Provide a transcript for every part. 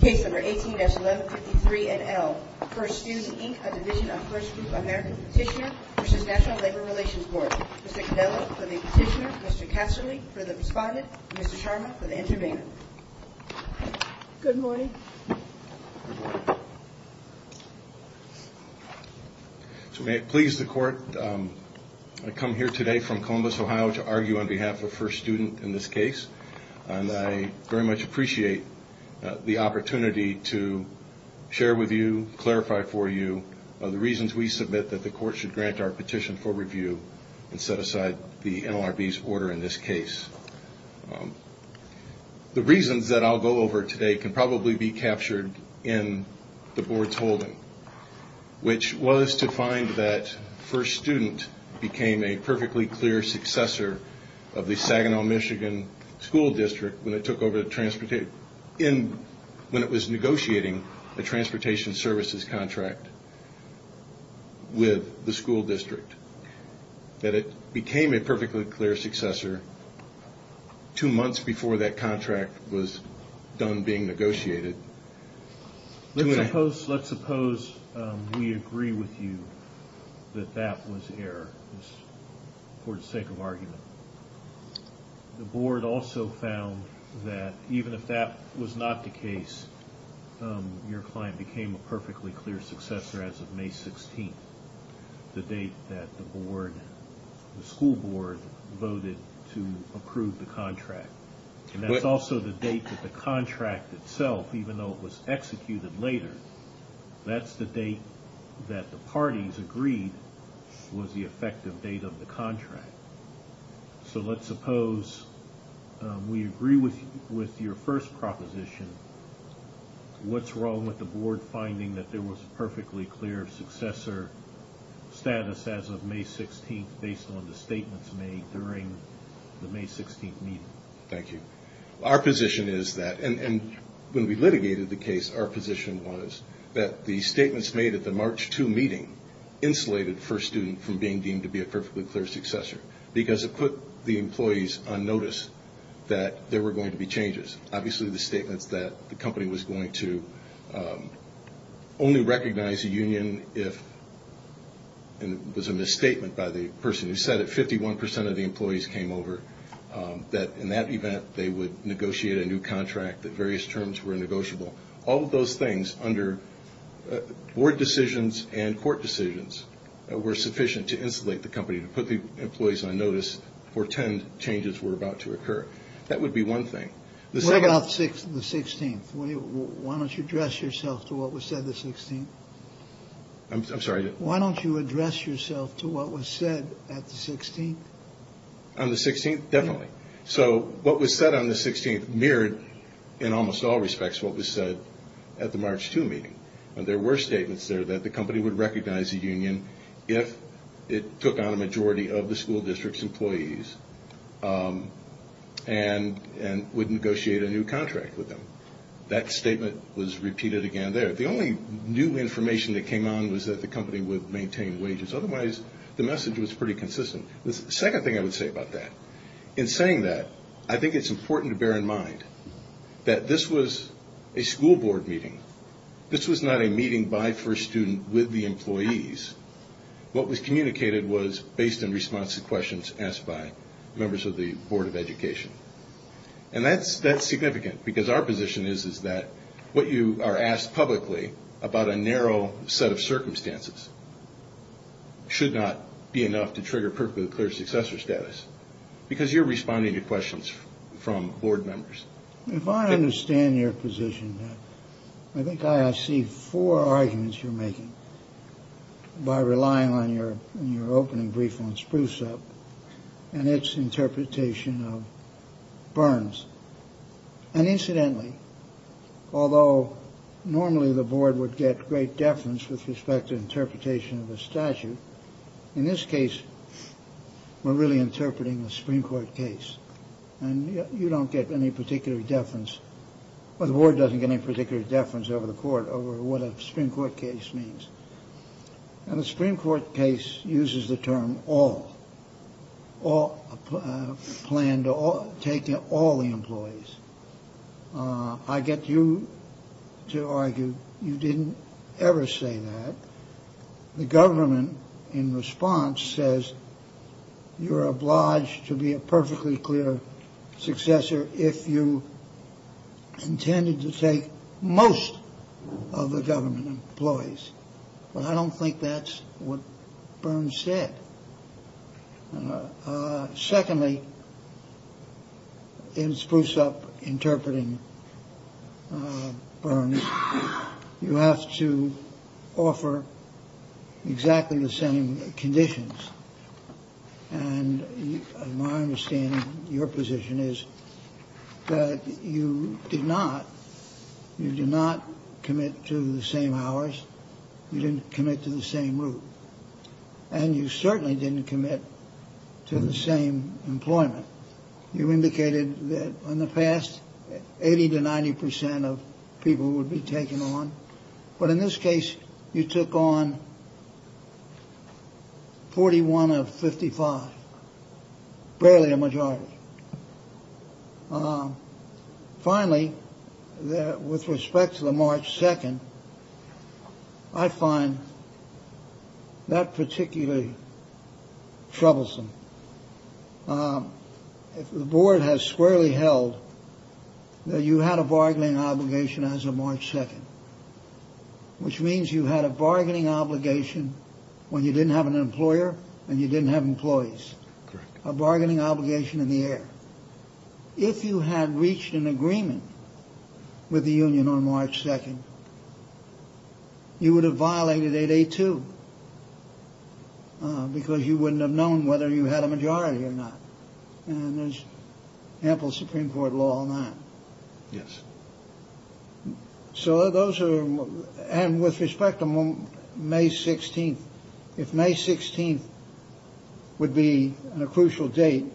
Case number 18-1153-NL. First Student, Inc., A Division of First Group America, Petitioner v. National Labor Relations Board. Mr. Cannella for the petitioner, Mr. Casserly for the respondent, Mr. Sharma for the intervener. Good morning. So may it please the court, I come here today from Columbus, Ohio, to argue on behalf of First Student in this case. And I very much appreciate the opportunity to share with you, clarify for you, the reasons we submit that the court should grant our petition for review and set aside the NLRB's order in this case. The reasons that I'll go over today can probably be captured in the board's holding, which was to find that First Student became a perfectly clear successor of the Saginaw, Michigan school district when it was negotiating a transportation services contract with the school district. That it became a perfectly clear successor two months before that contract was done being negotiated. Let's suppose we agree with you that that was error for the sake of argument. The board also found that even if that was not the case, your client became a perfectly clear successor as of May 16th, the date that the school board voted to approve the contract. That's also the date that the contract itself, even though it was executed later, that's the date that the parties agreed was the effective date of the contract. So let's suppose we agree with your first proposition. What's wrong with the board finding that there was a perfectly clear successor status as of May 16th based on the statements made during the May 16th meeting? Thank you. Our position is that, and when we litigated the case, our position was that the statements made at the March 2 meeting insulated First Student from being deemed to be a perfectly clear successor. Because it put the employees on notice that there were going to be changes. Obviously the statements that the company was going to only recognize a union if, and it was a misstatement by the person who said it, 51% of the employees came over. That in that event they would negotiate a new contract, that various terms were negotiable. All of those things under board decisions and court decisions were sufficient to insulate the company, to put the employees on notice for 10 changes were about to occur. That would be one thing. What about the 16th? Why don't you address yourself to what was said the 16th? I'm sorry? Why don't you address yourself to what was said at the 16th? On the 16th? Definitely. So what was said on the 16th mirrored in almost all respects what was said at the March 2 meeting. There were statements there that the company would recognize a union if it took on a majority of the school district's employees and would negotiate a new contract with them. That statement was repeated again there. The only new information that came on was that the company would maintain wages. Otherwise the message was pretty consistent. The second thing I would say about that, in saying that, I think it's important to bear in mind that this was a school board meeting. This was not a meeting by first student with the employees. What was communicated was based in response to questions asked by members of the Board of Education. And that's significant because our position is that what you are asked publicly about a narrow set of circumstances should not be enough to trigger perfectly clear successor status. Because you're responding to questions from Board members. If I understand your position, I think I see four arguments you're making by relying on your opening brief on Spruce Up and its interpretation of Burns. And incidentally, although normally the board would get great deference with respect to interpretation of a statute, in this case we're really interpreting a Supreme Court case. And you don't get any particular deference, or the board doesn't get any particular deference over the court over what a Supreme Court case means. And a Supreme Court case uses the term all, plan to take in all the employees. I get you to argue you didn't ever say that. The government, in response, says you're obliged to be a perfectly clear successor if you intended to take most of the government employees. But I don't think that's what Burns said. Secondly, in Spruce Up interpreting Burns, you have to offer exactly the same conditions. And my understanding, your position is that you did not. You did not commit to the same hours. You didn't commit to the same route. And you certainly didn't commit to the same employment. You indicated that in the past, 80 to 90 percent of people would be taken on. But in this case, you took on 41 of 55, barely a majority. Finally, with respect to the March 2nd, I find that particularly troublesome. The board has squarely held that you had a bargaining obligation as of March 2nd, which means you had a bargaining obligation when you didn't have an employer and you didn't have employees. Correct. A bargaining obligation in the air. If you had reached an agreement with the union on March 2nd, you would have violated 8.82 because you wouldn't have known whether you had a majority or not. And there's ample Supreme Court law on that. Yes. So those are. And with respect to May 16th, if May 16th would be a crucial date.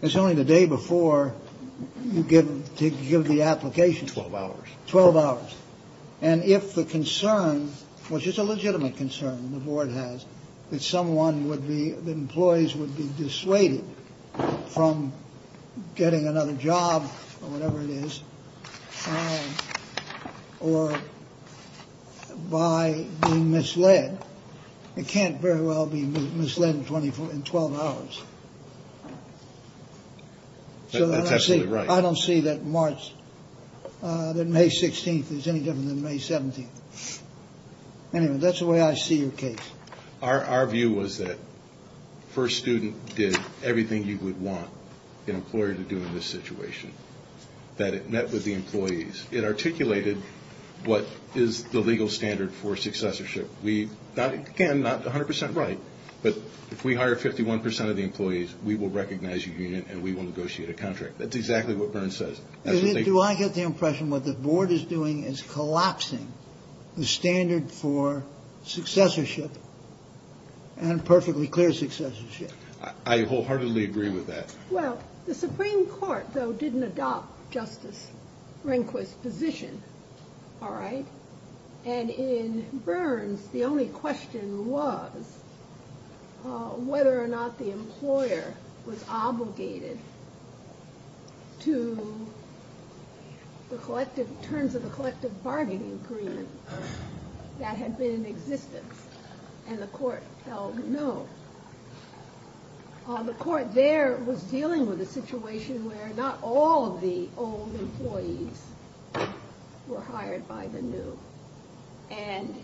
It's only the day before you get to give the application. Twelve hours. Twelve hours. And if the concern was just a legitimate concern, the board has that someone would be the employees would be dissuaded from getting another job or whatever it is. Or by being misled. It can't very well be misled in 24 and 12 hours. So that's actually right. I don't see that March that May 16th is any different than May 17th. Anyway, that's the way I see your case. Our view was that first student did everything you would want an employer to do in this situation. That it met with the employees. It articulated what is the legal standard for successorship. Again, not 100 percent right. But if we hire 51 percent of the employees, we will recognize your union and we will negotiate a contract. That's exactly what Byrne says. Do I get the impression what the board is doing is collapsing the standard for successorship? And perfectly clear success. I wholeheartedly agree with that. Well, the Supreme Court, though, didn't adopt Justice Rehnquist position. All right. And in Byrne's, the only question was whether or not the employer was obligated to the terms of the collective bargaining agreement that had been in existence. And the court held no. The court there was dealing with a situation where not all of the old employees were hired by the new. And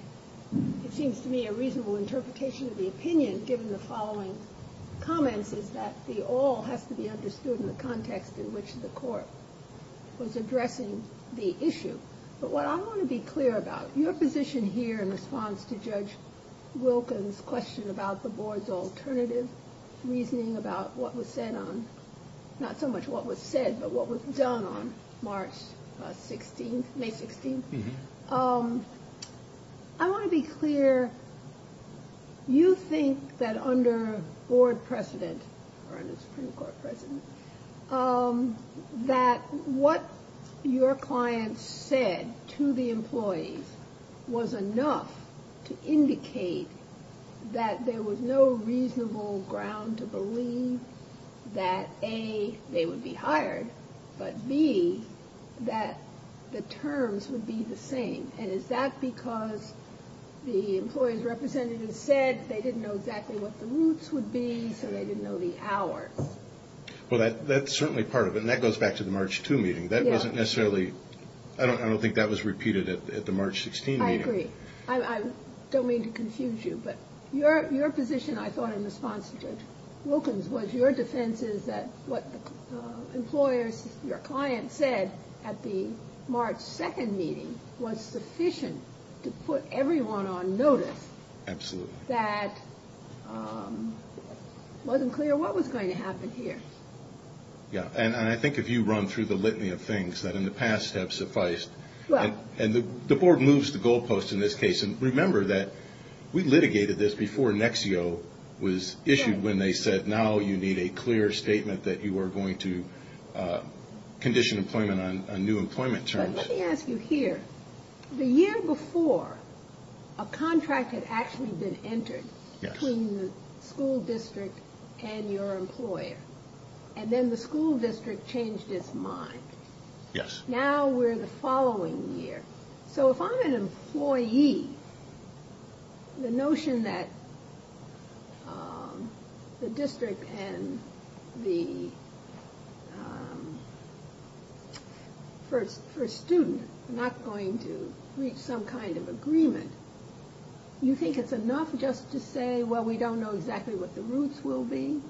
it seems to me a reasonable interpretation of the opinion, given the following comments, is that the all has to be understood in the context in which the court was addressing the issue. But what I want to be clear about your position here in response to Judge Wilkins question about the board's alternative reasoning about what was said on, not so much what was said, but what was done on March 16th, May 16th. I want to be clear. You think that under board precedent or under Supreme Court precedent, that what your client said to the employees was enough to indicate that there was no reasonable ground to believe that, A, they would be hired, but B, that the terms would be the same. And is that because the employees' representatives said they didn't know exactly what the routes would be, so they didn't know the hours? Well, that's certainly part of it. And that goes back to the March 2 meeting. That wasn't necessarily – I don't think that was repeated at the March 16 meeting. I agree. I don't mean to confuse you. But your position, I thought, in response to Judge Wilkins was your defense is that what employers, your client said at the March 2 meeting was sufficient to put everyone on notice. Absolutely. That it wasn't clear what was going to happen here. Yeah. And I think if you run through the litany of things that in the past have sufficed – Well – And the Board moves the goalpost in this case. And remember that we litigated this before NEXIO was issued when they said now you need a clear statement that you are going to condition employment on new employment terms. Let me ask you here. The year before, a contract had actually been entered between the school district and your employer. And then the school district changed its mind. Yes. And now we're the following year. So if I'm an employee, the notion that the district and the – for a student, not going to reach some kind of agreement, you think it's enough just to say, well, we don't know exactly what the roots will be?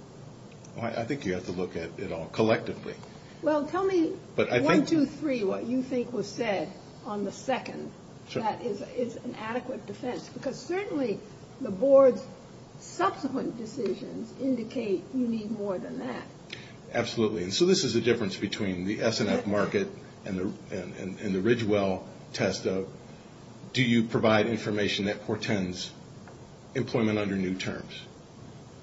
I think you have to look at it all collectively. Well, tell me one, two, three, what you think was said on the second that is an adequate defense. Because certainly the Board's subsequent decisions indicate you need more than that. Absolutely. And so this is the difference between the S&F market and the Ridgewell test of do you provide information that portends employment under new terms?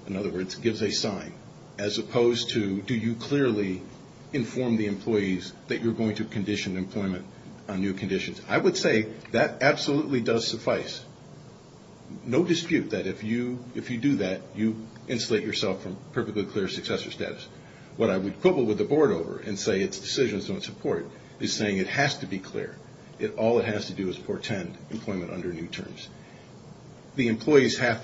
In other words, gives a sign. As opposed to do you clearly inform the employees that you're going to condition employment on new conditions? I would say that absolutely does suffice. No dispute that if you do that, you insulate yourself from perfectly clear successor status. What I would quibble with the Board over and say its decisions don't support is saying it has to be clear. All it has to do is portend employment under new terms. The employees have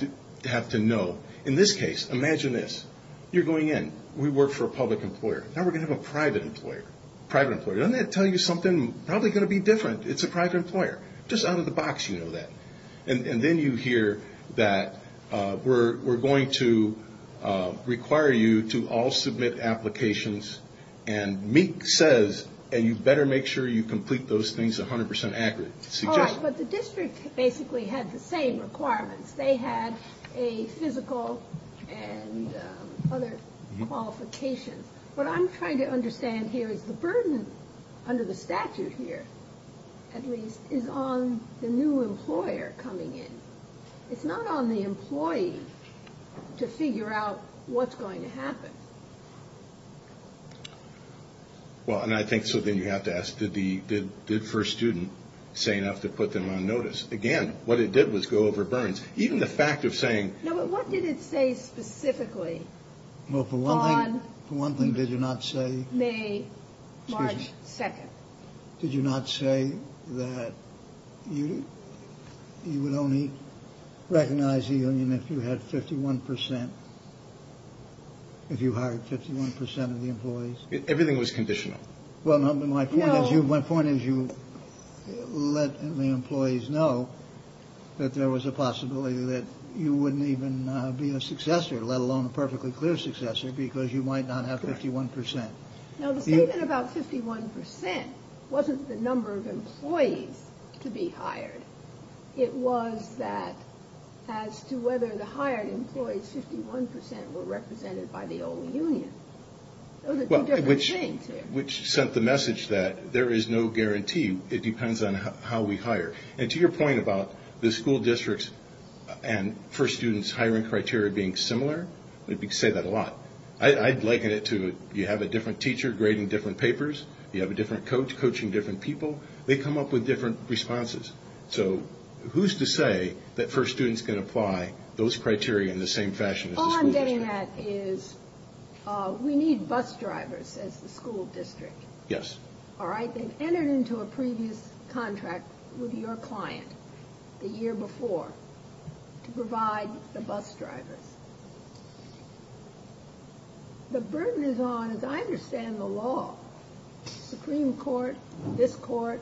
to know. In this case, imagine this. You're going in. We work for a public employer. Now we're going to have a private employer. Private employer. Doesn't that tell you something? Probably going to be different. It's a private employer. Just out of the box you know that. And then you hear that we're going to require you to all submit applications. And MEEC says you better make sure you complete those things 100% accurately. But the district basically had the same requirements. They had a physical and other qualifications. What I'm trying to understand here is the burden under the statute here at least is on the new employer coming in. It's not on the employee to figure out what's going to happen. Well, and I think so then you have to ask did First Student say enough to put them on notice? Again, what it did was go over burns. Even the fact of saying. No, but what did it say specifically? Well, for one thing did you not say. May, March 2nd. If you hired 51% of the employees, everything was conditional. Well, my point is you my point is you let the employees know that there was a possibility that you wouldn't even be a successor, let alone a perfectly clear successor because you might not have 51%. Now, the statement about 51% wasn't the number of employees to be hired. It was that as to whether the hired employees 51% were represented by the old union. Those are two different things here. Which sent the message that there is no guarantee. It depends on how we hire. And to your point about the school districts and First Student's hiring criteria being similar, we say that a lot. I'd liken it to you have a different teacher grading different papers. You have a different coach coaching different people. They come up with different responses. So who's to say that First Student's can apply those criteria in the same fashion as the school district? All I'm getting at is we need bus drivers as the school district. Yes. All right. They've entered into a previous contract with your client the year before to provide the bus drivers. The burden is on, as I understand the law, Supreme Court, this court,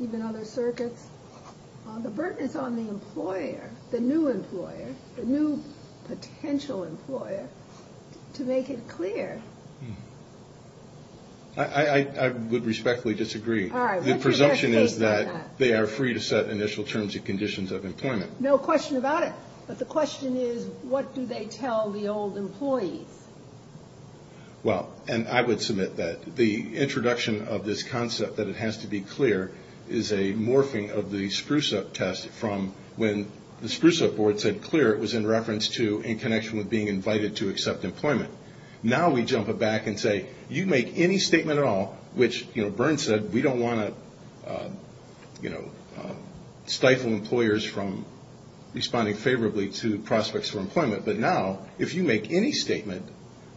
even other circuits, the burden is on the employer, the new employer, the new potential employer, to make it clear. I would respectfully disagree. All right. The presumption is that they are free to set initial terms and conditions of employment. No question about it. But the question is, what do they tell the old employees? Well, and I would submit that the introduction of this concept, that it has to be clear, is a morphing of the Spruce-Up test from when the Spruce-Up board said clear, it was in reference to in connection with being invited to accept employment. Now we jump back and say, you make any statement at all, which, you know, stifle employers from responding favorably to prospects for employment. But now, if you make any statement,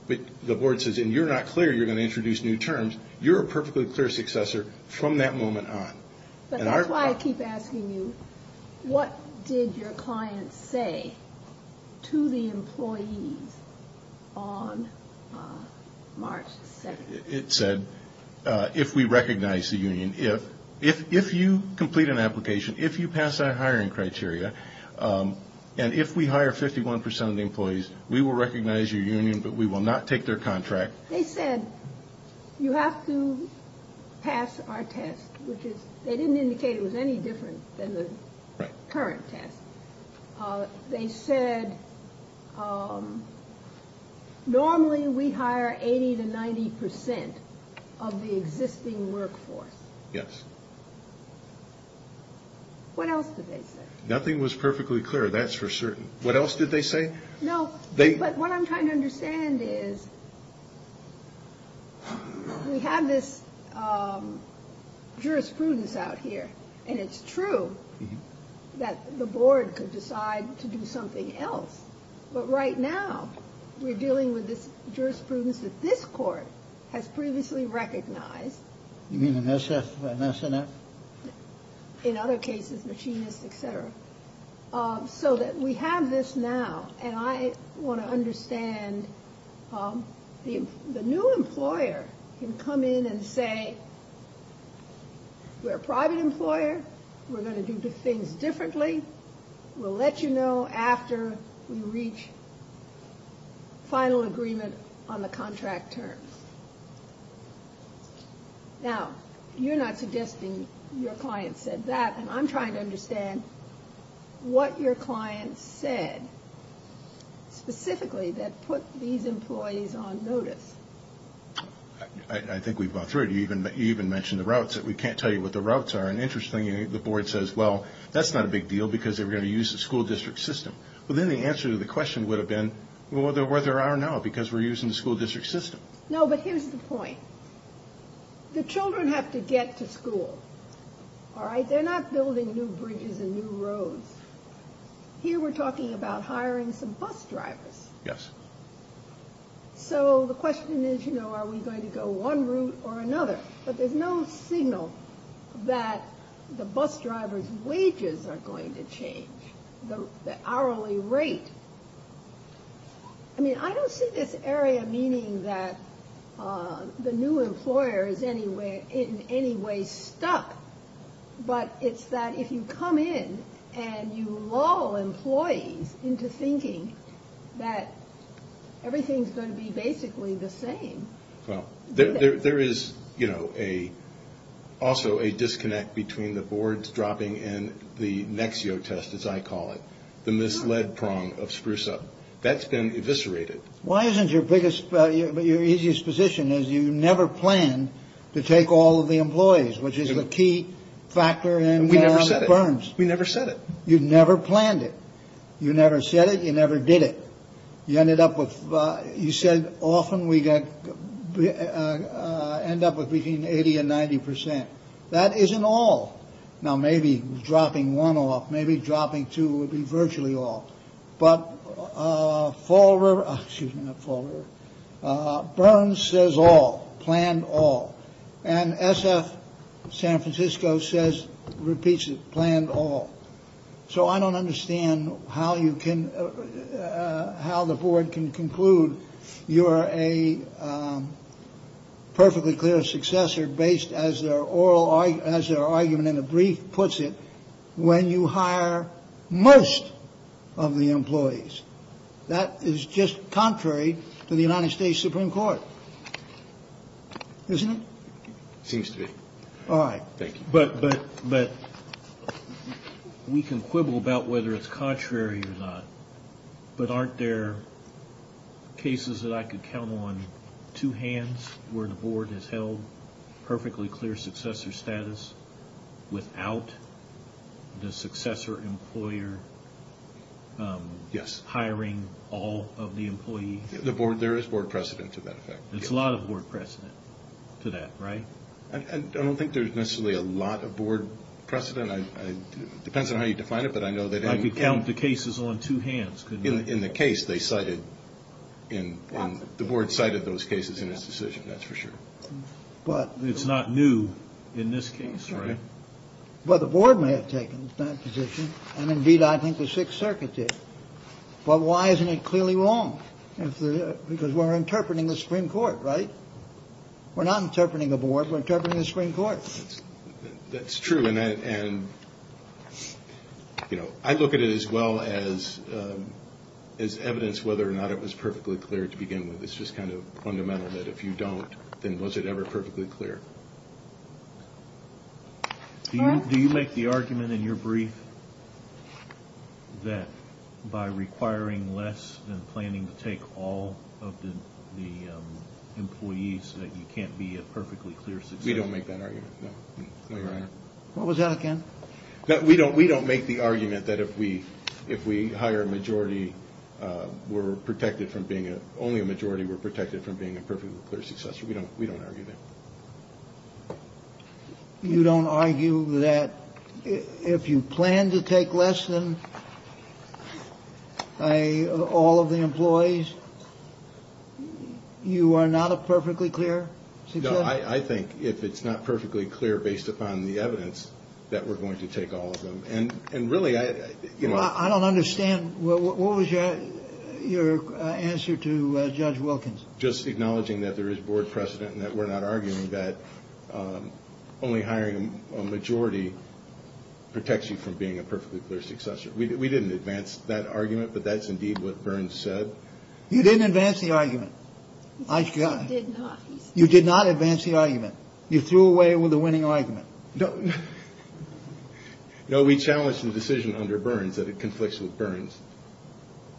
the board says, and you're not clear, you're going to introduce new terms, you're a perfectly clear successor from that moment on. But that's why I keep asking you, what did your client say to the employees on March 2nd? It said, if we recognize the union, if you complete an application, if you pass our hiring criteria, and if we hire 51 percent of the employees, we will recognize your union, but we will not take their contract. They said, you have to pass our test, which is, they didn't indicate it was any different than the current test. They said, normally we hire 80 to 90 percent of the existing workforce. Yes. What else did they say? Nothing was perfectly clear, that's for certain. What else did they say? No, but what I'm trying to understand is, we have this jurisprudence out here, and it's true that the board could decide to do something else. But right now, we're dealing with this jurisprudence that this court has previously recognized. You mean an SF, an SNF? In other cases, machinists, et cetera. So that we have this now, and I want to understand, the new employer can come in and say, we're a private employer, we're going to do things differently, we'll let you know after we reach final agreement on the contract terms. Now, you're not suggesting your client said that, and I'm trying to understand what your client said specifically that put these employees on notice. I think we've gone through it. You even mentioned the routes, that we can't tell you what the routes are. And interestingly, the board says, well, that's not a big deal, because they're going to use the school district system. Well, then the answer to the question would have been, well, where they are now, because we're using the school district system. No, but here's the point. The children have to get to school, all right? They're not building new bridges and new roads. Here, we're talking about hiring some bus drivers. Yes. So the question is, you know, are we going to go one route or another? But there's no signal that the bus drivers' wages are going to change, the hourly rate. I mean, I don't see this area meaning that the new employer is in any way stuck, but it's that if you come in and you lull employees into thinking that everything's going to be basically the same. Well, there is, you know, also a disconnect between the boards dropping and the Nexio test, as I call it, the misled prong of SpruceUp. That's been eviscerated. Why isn't your biggest – your easiest position is you never planned to take all of the employees, which is the key factor in Burns. We never said it. You never planned it. You never said it. You never did it. You ended up with – you said often we end up with between 80 and 90 percent. That isn't all. Now, maybe dropping one off, maybe dropping two would be virtually all. But Fall River – excuse me, not Fall River – Burns says all, planned all. And SF San Francisco says, repeats it, planned all. So I don't understand how you can – how the board can conclude you are a perfectly clear successor based, as their oral – as their argument in the brief puts it, when you hire most of the employees. That is just contrary to the United States Supreme Court, isn't it? Seems to be. All right. Thank you. But we can quibble about whether it's contrary or not. But aren't there cases that I could count on two hands where the board has held perfectly clear successor status without the successor employer hiring all of the employees? The board – there is board precedent to that effect. There's a lot of board precedent to that, right? I don't think there's necessarily a lot of board precedent. It depends on how you define it, but I know that – I could count the cases on two hands, couldn't I? In the case they cited – the board cited those cases in its decision, that's for sure. But it's not new in this case, right? Well, the board may have taken that position, and indeed I think the Sixth Circuit did. But why isn't it clearly wrong? Because we're interpreting the Supreme Court, right? We're not interpreting the board, we're interpreting the Supreme Court. That's true, and I look at it as well as evidence whether or not it was perfectly clear to begin with. It's just kind of fundamental that if you don't, then was it ever perfectly clear? Do you make the argument in your brief that by requiring less than planning to take all of the employees, that you can't be a perfectly clear successor? We don't make that argument, no, Your Honor. What was that again? We don't make the argument that if we hire a majority, we're protected from being a – only a majority we're protected from being a perfectly clear successor. We don't argue that. You don't argue that if you plan to take less than all of the employees, you are not a perfectly clear successor? No, I think if it's not perfectly clear based upon the evidence that we're going to take all of them. And really I – I don't understand. What was your answer to Judge Wilkins? Just acknowledging that there is board precedent and that we're not arguing that only hiring a majority protects you from being a perfectly clear successor. We didn't advance that argument, but that's indeed what Burns said. You didn't advance the argument. I – I did not. You did not advance the argument. You threw away the winning argument. No, we challenged the decision under Burns that it conflicts with Burns.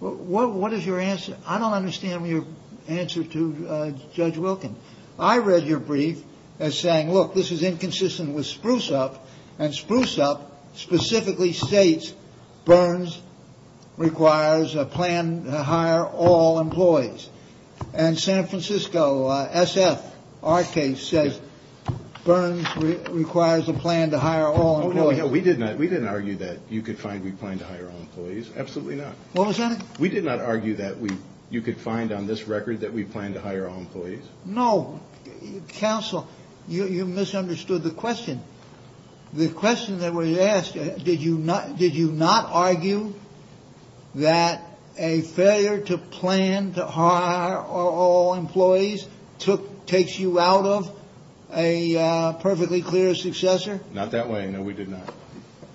What is your answer? I don't understand your answer to Judge Wilkins. I read your brief as saying, look, this is inconsistent with Spruce-Up, and Spruce-Up specifically states Burns requires a plan to hire all employees. And San Francisco S.F., our case, says Burns requires a plan to hire all employees. No, we did not. We didn't argue that you could find we plan to hire all employees. Absolutely not. What was that? We did not argue that you could find on this record that we plan to hire all employees. No. Counsel, you misunderstood the question. The question that was asked, did you not argue that a failure to plan to hire all employees took – takes you out of a perfectly clear successor? Not that way. No, we did not.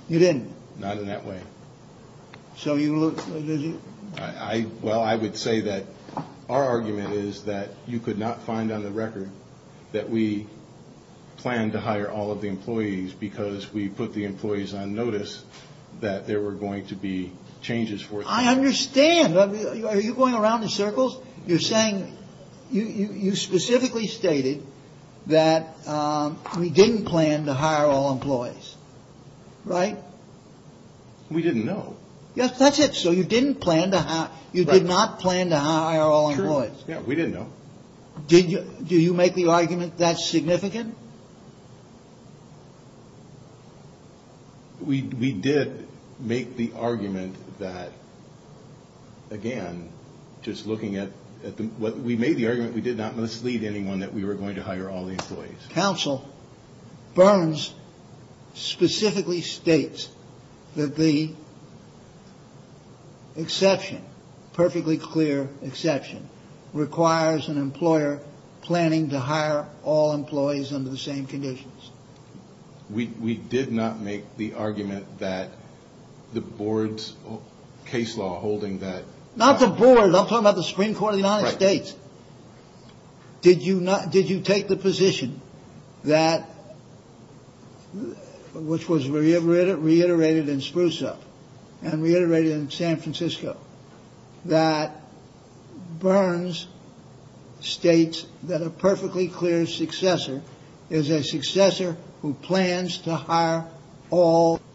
You didn't? Not in that way. So you – Well, I would say that our argument is that you could not find on the record that we plan to hire all of the employees because we put the employees on notice that there were going to be changes for them. I understand. Are you going around in circles? You're saying – you specifically stated that we didn't plan to hire all employees, right? We didn't know. Yes, that's it. So you didn't plan to hire – you did not plan to hire all employees. Sure. Yeah, we didn't know. Did you – do you make the argument that's significant? We did make the argument that, again, just looking at – we made the argument we did not mislead anyone that we were going to hire all the employees. Counsel Burns specifically states that the exception, perfectly clear exception, requires an employer planning to hire all employees under the same conditions. We did not make the argument that the board's case law holding that – Not the board. I'm talking about the Supreme Court of the United States. Right. Did you not – did you take the position that – which was reiterated in Spruce-Up and reiterated in San Francisco – that Burns states that a perfectly clear successor is a successor who plans to hire all –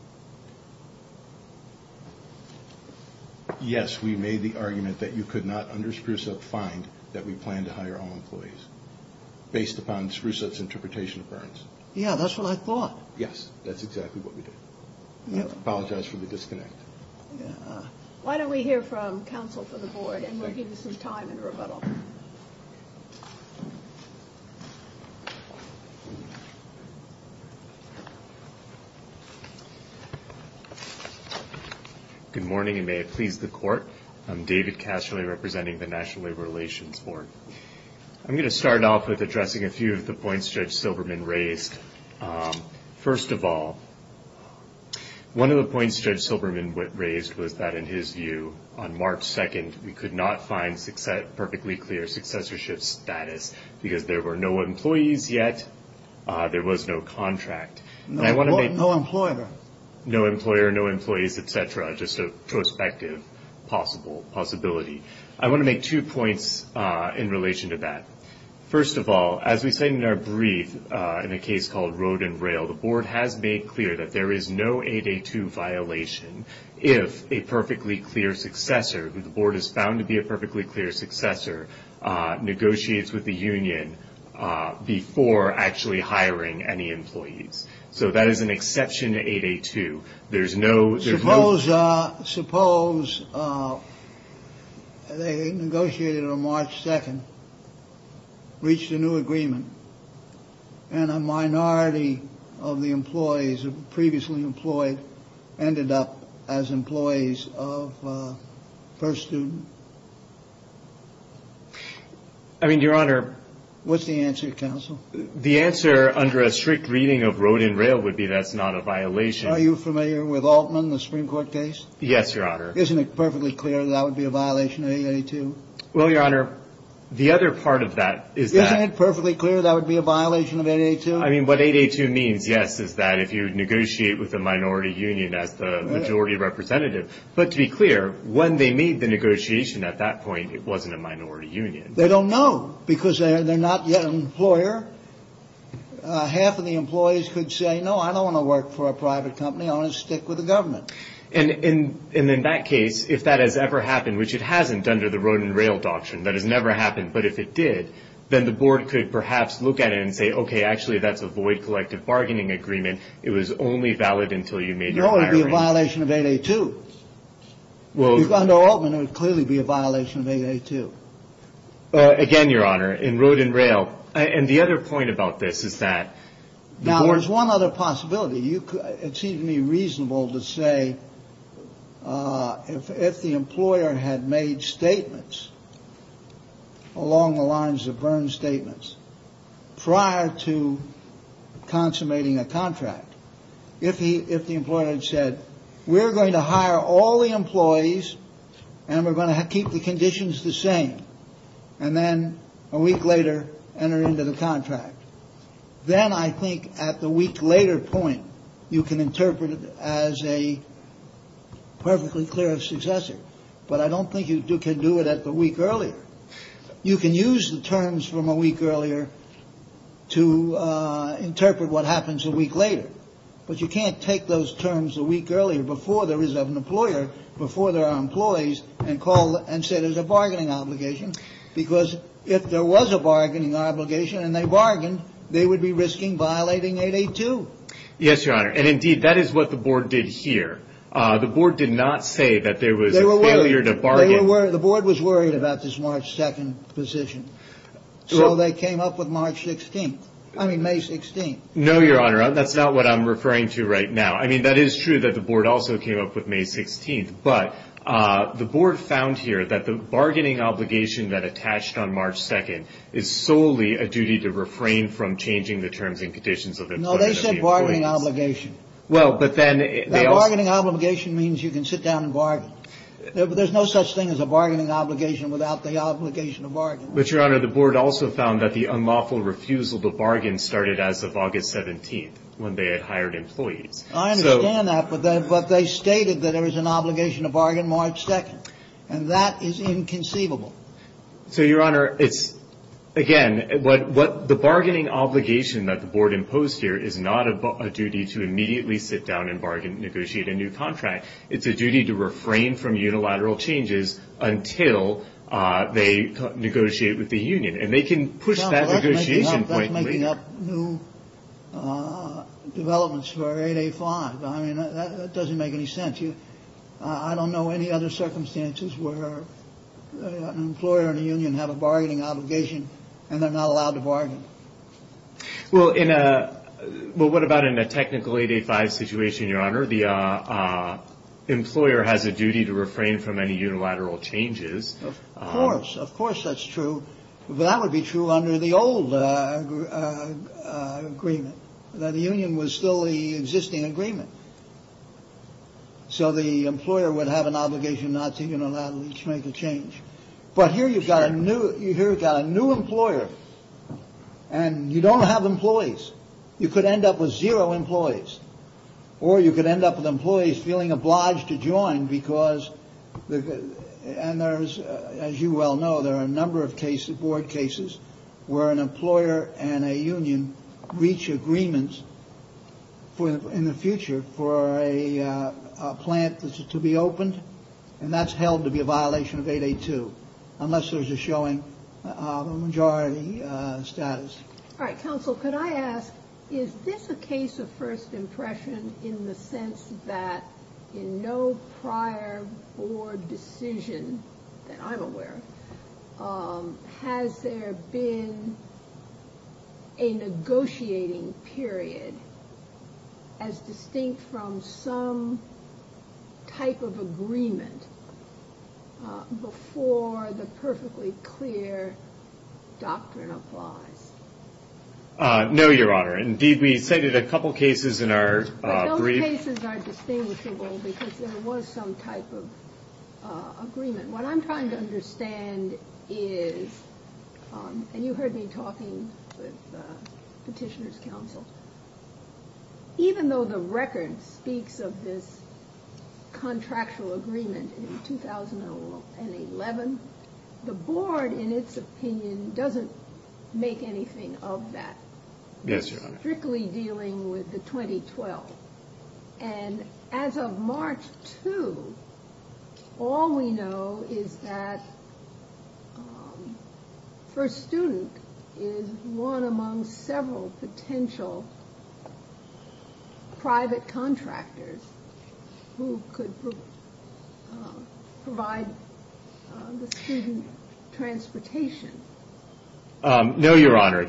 based upon Spruce-Up's interpretation of Burns? Yeah, that's what I thought. Yes, that's exactly what we did. I apologize for the disconnect. Why don't we hear from counsel for the board, and we'll give you some time in rebuttal. Good morning, and may it please the Court. I'm David Casserly representing the National Labor Relations Board. I'm going to start off with addressing a few of the points Judge Silberman raised. First of all, one of the points Judge Silberman raised was that, in his view, on March 2nd, we could not find perfectly clear successorship status because there were no employees yet, there was no contract. No employer. No employer, no employees, et cetera, just a prospective possibility. I want to make two points in relation to that. First of all, as we say in our brief in a case called Road and Rail, the board has made clear that there is no 8A2 violation if a perfectly clear successor, who the board has found to be a perfectly clear successor, negotiates with the union before actually hiring any employees. So that is an exception to 8A2. Suppose they negotiated on March 2nd, reached a new agreement, and a minority of the employees who were previously employed ended up as employees of First Student. I mean, Your Honor. What's the answer, counsel? The answer, under a strict reading of Road and Rail, would be that's not a violation. Are you familiar with Altman, the Supreme Court case? Yes, Your Honor. Isn't it perfectly clear that that would be a violation of 8A2? Well, Your Honor, the other part of that is that — Isn't it perfectly clear that would be a violation of 8A2? I mean, what 8A2 means, yes, is that if you negotiate with a minority union as the majority representative. But to be clear, when they made the negotiation at that point, it wasn't a minority union. They don't know because they're not yet an employer. Half of the employees could say, no, I don't want to work for a private company. I want to stick with the government. And in that case, if that has ever happened, which it hasn't under the Road and Rail doctrine, that has never happened, but if it did, then the board could perhaps look at it and say, okay, actually, that's a void collective bargaining agreement. It was only valid until you made your hiring. No, it would be a violation of 8A2. Under Altman, it would clearly be a violation of 8A2. Again, Your Honor, in Road and Rail. And the other point about this is that the board — Now, there's one other possibility. It seems to me reasonable to say if the employer had made statements along the lines of Byrne's statements prior to consummating a contract, if the employer had said, we're going to hire all the employees and we're going to keep the conditions the same. And then a week later, enter into the contract. Then I think at the week later point, you can interpret it as a perfectly clear successor. But I don't think you can do it at the week earlier. You can use the terms from a week earlier to interpret what happens a week later. But you can't take those terms a week earlier before there is an employer, before there are employees, and call and say there's a bargaining obligation. Because if there was a bargaining obligation and they bargained, they would be risking violating 8A2. Yes, Your Honor. And indeed, that is what the board did here. The board did not say that there was a failure to bargain. The board was worried about this March 2nd position. So they came up with March 16th. I mean, May 16th. No, Your Honor. That's not what I'm referring to right now. I mean, that is true that the board also came up with May 16th. But the board found here that the bargaining obligation that attached on March 2nd is solely a duty to refrain from changing the terms and conditions of employment. No, they said bargaining obligation. Well, but then they also. Bargaining obligation means you can sit down and bargain. There's no such thing as a bargaining obligation without the obligation to bargain. But, Your Honor, the board also found that the unlawful refusal to bargain started as of August 17th, when they had hired employees. I understand that, but they stated that there was an obligation to bargain March 2nd. And that is inconceivable. So, Your Honor, it's, again, what the bargaining obligation that the board imposed here is not a duty to immediately sit down and bargain, negotiate a new contract. It's a duty to refrain from unilateral changes until they negotiate with the union. And they can push that negotiation point later. That's making up new developments for 8A5. I don't know any other circumstances where an employer and a union have a bargaining obligation and they're not allowed to bargain. Well, what about in a technical 8A5 situation, Your Honor? The employer has a duty to refrain from any unilateral changes. Of course. Of course that's true. But that would be true under the old agreement. The union was still the existing agreement. So the employer would have an obligation not to unilaterally make a change. But here you've got a new employer. And you don't have employees. You could end up with zero employees. Or you could end up with employees feeling obliged to join because, as you well know, there are a number of cases, board cases, where an employer and a union reach agreements in the future for a plant to be opened. And that's held to be a violation of 8A2 unless there's a showing of a majority status. All right, counsel, could I ask, is this a case of first impression in the sense that in no prior board decision that I'm aware of, has there been a negotiating period as distinct from some type of agreement before the perfectly clear doctrine applies? No, Your Honor. Indeed, we cited a couple cases in our brief. But those cases are distinguishable because there was some type of agreement. What I'm trying to understand is, and you heard me talking with Petitioner's counsel, even though the record speaks of this contractual agreement in 2011, the board, in its opinion, doesn't make anything of that. Yes, Your Honor. dealing with the 2012. And as of March 2, all we know is that first student is one among several potential private contractors who could provide the student transportation. No, Your Honor.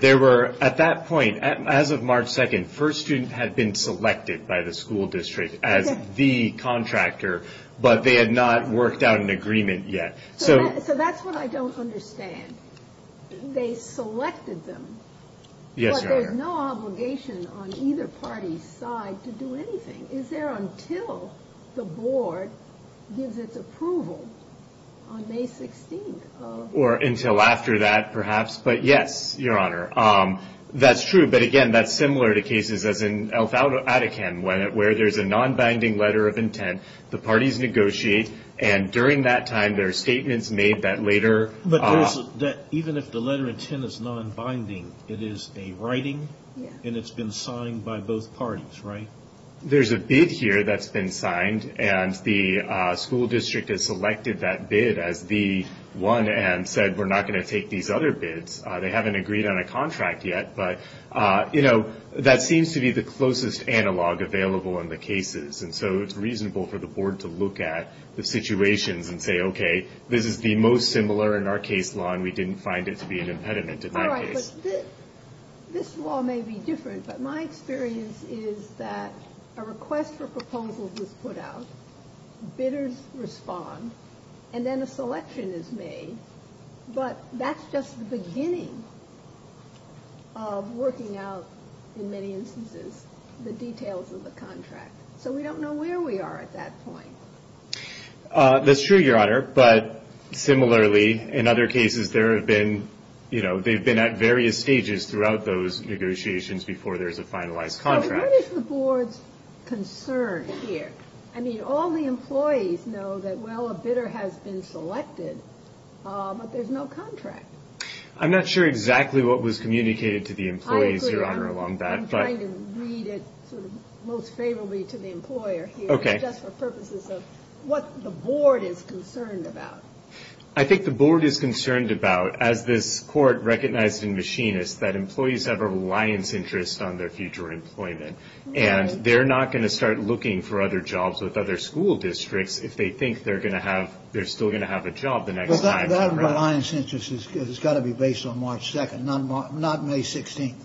At that point, as of March 2, first student had been selected by the school district as the contractor, but they had not worked out an agreement yet. So that's what I don't understand. They selected them. Yes, Your Honor. But there's no obligation on either party's side to do anything. Is there until the board gives its approval on May 16? Or until after that, perhaps. But, yes, Your Honor. That's true. But, again, that's similar to cases as in Al-Ataqan, where there's a non-binding letter of intent, the parties negotiate, and during that time there are statements made that later. But even if the letter of intent is non-binding, it is a writing, and it's been signed by both parties, right? There's a bid here that's been signed, and the school district has selected that bid as the one and said, we're not going to take these other bids. They haven't agreed on a contract yet. But, you know, that seems to be the closest analog available in the cases. And so it's reasonable for the board to look at the situations and say, okay, this is the most similar in our case law, and we didn't find it to be an impediment in my case. This law may be different, but my experience is that a request for proposals is put out, bidders respond, and then a selection is made. But that's just the beginning of working out, in many instances, the details of the contract. So we don't know where we are at that point. That's true, Your Honor. But similarly, in other cases, there have been, you know, they've been at various stages throughout those negotiations before there's a finalized contract. So what is the board's concern here? I mean, all the employees know that, well, a bidder has been selected, but there's no contract. I'm not sure exactly what was communicated to the employees, Your Honor, along that. I'm trying to read it sort of most favorably to the employer here. Just for purposes of what the board is concerned about. I think the board is concerned about, as this Court recognized in Machinists, that employees have a reliance interest on their future employment, and they're not going to start looking for other jobs with other school districts if they think they're still going to have a job the next time. That reliance interest has got to be based on March 2nd, not May 16th.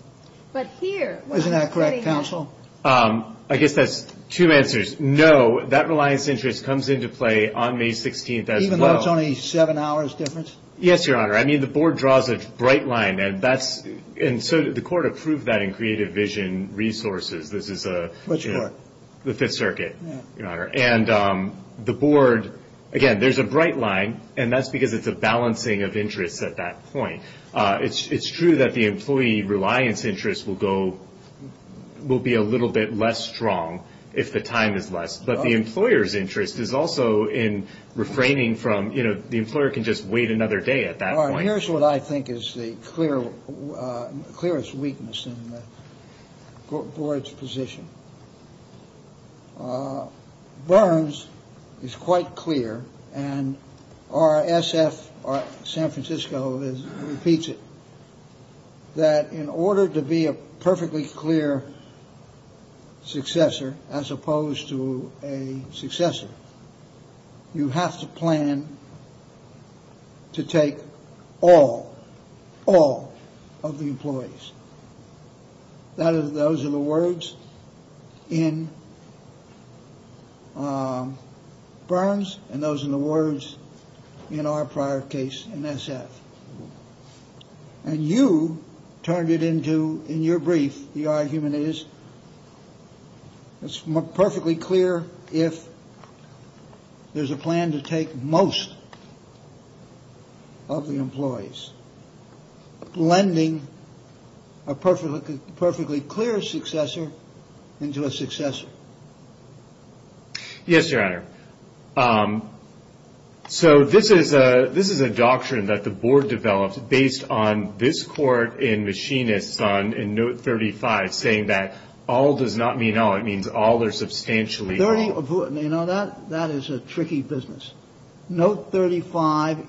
But here. Isn't that correct, counsel? I guess that's two answers. No, that reliance interest comes into play on May 16th as well. Even though it's only a seven-hour difference? Yes, Your Honor. I mean, the board draws a bright line, and so the court approved that in Creative Vision Resources. Which court? The Fifth Circuit, Your Honor. And the board, again, there's a bright line, and that's because it's a balancing of interests at that point. It's true that the employee reliance interest will go, will be a little bit less strong if the time is less. But the employer's interest is also in refraining from, you know, the employer can just wait another day at that point. Here's what I think is the clearest weakness in the board's position. Burns is quite clear. And our SF, San Francisco, repeats it. That in order to be a perfectly clear successor, as opposed to a successor, you have to plan to take all, all of the employees. Those are the words in Burns and those are the words in our prior case in SF. And you turned it into, in your brief, the argument is it's perfectly clear if there's a plan to take most of the employees. Blending a perfectly clear successor into a successor. Yes, Your Honor. So this is a, this is a doctrine that the board developed based on this court in Machinists on in Note 35, saying that all does not mean all. It means all are substantially. You know that? That is a tricky business. Note 35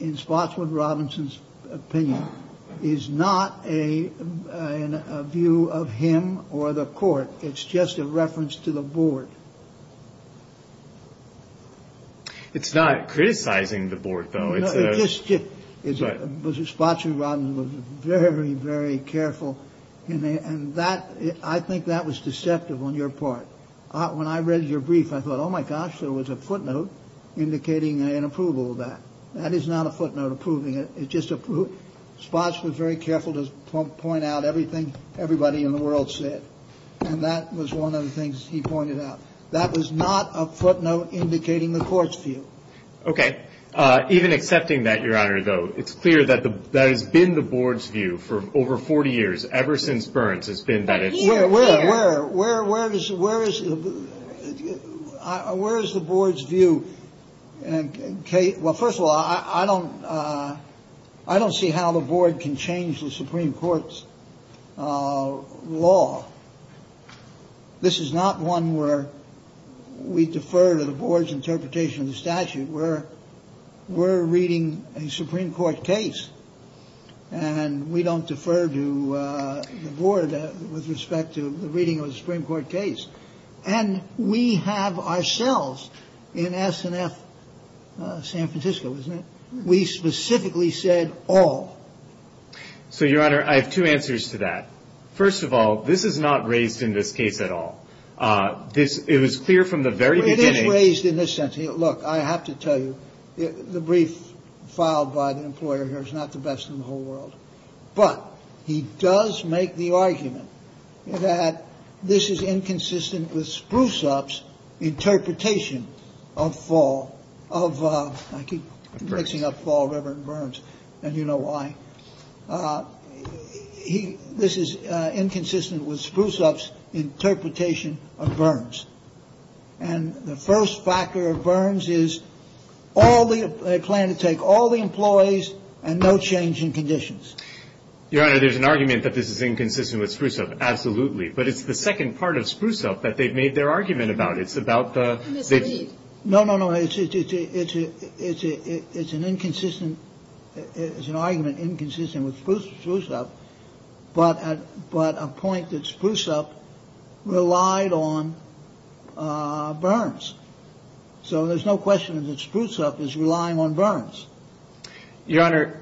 in Spotswood Robinson's opinion is not a view of him or the court. It's just a reference to the board. It's not criticizing the board, though. It's just that Spotswood Robinson was very, very careful. And that I think that was deceptive on your part. When I read your brief, I thought, oh, my gosh, there was a footnote indicating an approval of that. That is not a footnote approving it. It's just a Spotswood very careful to point out everything everybody in the world said. And that was one of the things he pointed out. That was not a footnote indicating the court's view. OK. Even accepting that, Your Honor, though, it's clear that that has been the board's view for over 40 years, ever since Burns has been that. Where, where, where, where, where is it? Where is it? Where is the board's view? Kate. Well, first of all, I don't I don't see how the board can change the Supreme Court's law. This is not one where we defer to the board's interpretation of the statute where we're reading a Supreme Court case. And we don't defer to the board with respect to the reading of a Supreme Court case. And we have ourselves in S&F San Francisco, isn't it? We specifically said all. So, Your Honor, I have two answers to that. First of all, this is not raised in this case at all. This is clear from the very beginning. Look, I have to tell you, the brief filed by the employer here is not the best in the whole world. But he does make the argument that this is inconsistent with spruce ups interpretation of fall of mixing up fall. Reverend Burns. And you know why he this is inconsistent with spruce ups interpretation of Burns. And the first factor of Burns is all the plan to take all the employees and no change in conditions. Your Honor, there's an argument that this is inconsistent with spruce up. Absolutely. But it's the second part of spruce up that they've made their argument about. It's about. No, no, no. It's a it's a it's an inconsistent. It's an argument inconsistent with spruce up. But but a point that spruce up relied on Burns. So there's no question that spruce up is relying on Burns. Your Honor.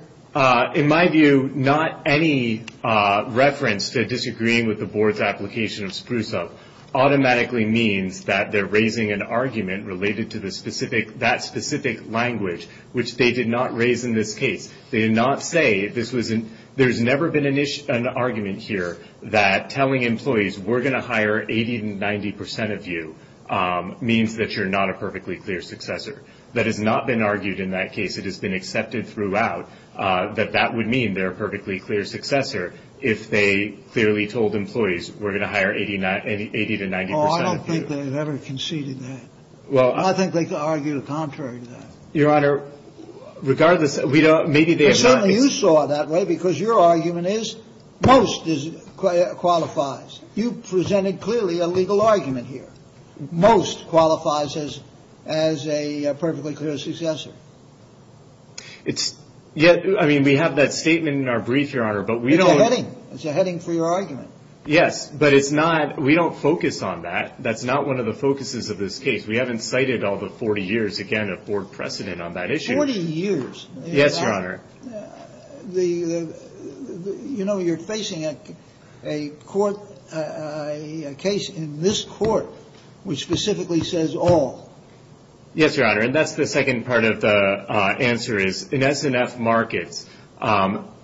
In my view, not any reference to disagreeing with the board's application of spruce up automatically means that they're raising an argument related to the specific. That specific language, which they did not raise in this case, they did not say this was. And there's never been an issue, an argument here that telling employees we're going to hire 80 to 90 percent of you means that you're not a perfectly clear successor. That has not been argued in that case. It has been accepted throughout that that would mean they're perfectly clear successor. If they clearly told employees we're going to hire 89, 80 to 90 percent. I don't think they've ever conceded that. Well, I think they could argue the contrary to that, Your Honor. Regardless, we don't. Maybe they saw that way because your argument is most is qualifies. You presented clearly a legal argument here. Most qualifies as as a perfectly clear successor. It's yet. I mean, we have that statement in our brief, Your Honor, but we don't. It's a heading for your argument. Yes, but it's not. We don't focus on that. That's not one of the focuses of this case. We haven't cited all the 40 years again of board precedent on that issue. 40 years. Yes, Your Honor. The you know, you're facing a court case in this court which specifically says all. Yes, Your Honor. And that's the second part of the answer is in SNF markets.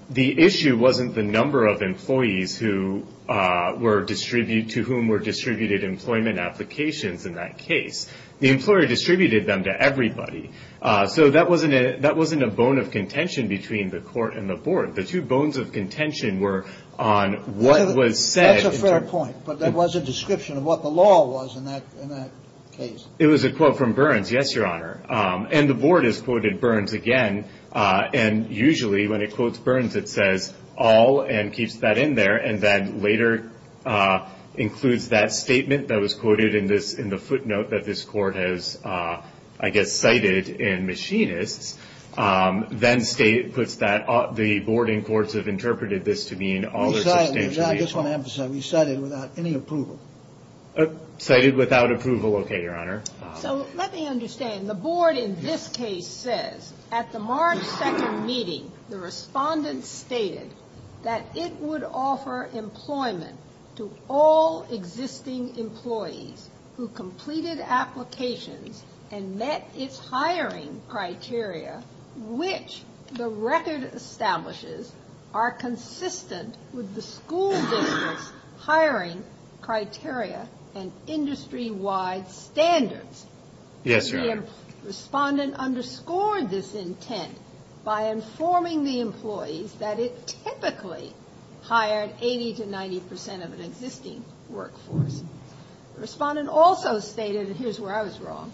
The issue wasn't the number of employees who were distributed to whom were distributed employment applications. In that case, the employer distributed them to everybody. So that wasn't it. That wasn't a bone of contention between the court and the board. The two bones of contention were on what was said. That's a fair point. But there was a description of what the law was in that case. It was a quote from Burns. Yes, Your Honor. And the board is quoted Burns again. And usually when it quotes Burns, it says all and keeps that in there. And then later includes that statement that was quoted in this in the footnote that this court has, I guess, cited in machinists. Then state puts that the board and courts have interpreted this to mean all. I just want to emphasize we cited without any approval. Cited without approval. OK, Your Honor. So let me understand. The board in this case says at the March 2nd meeting, the respondent stated that it would offer employment to all existing employees who completed applications and met its hiring criteria, which the record establishes are consistent with the school district's hiring criteria and industry-wide standards. Yes, Your Honor. The respondent underscored this intent by informing the employees that it typically hired 80 to 90 percent of an existing workforce. The respondent also stated, and here's where I was wrong,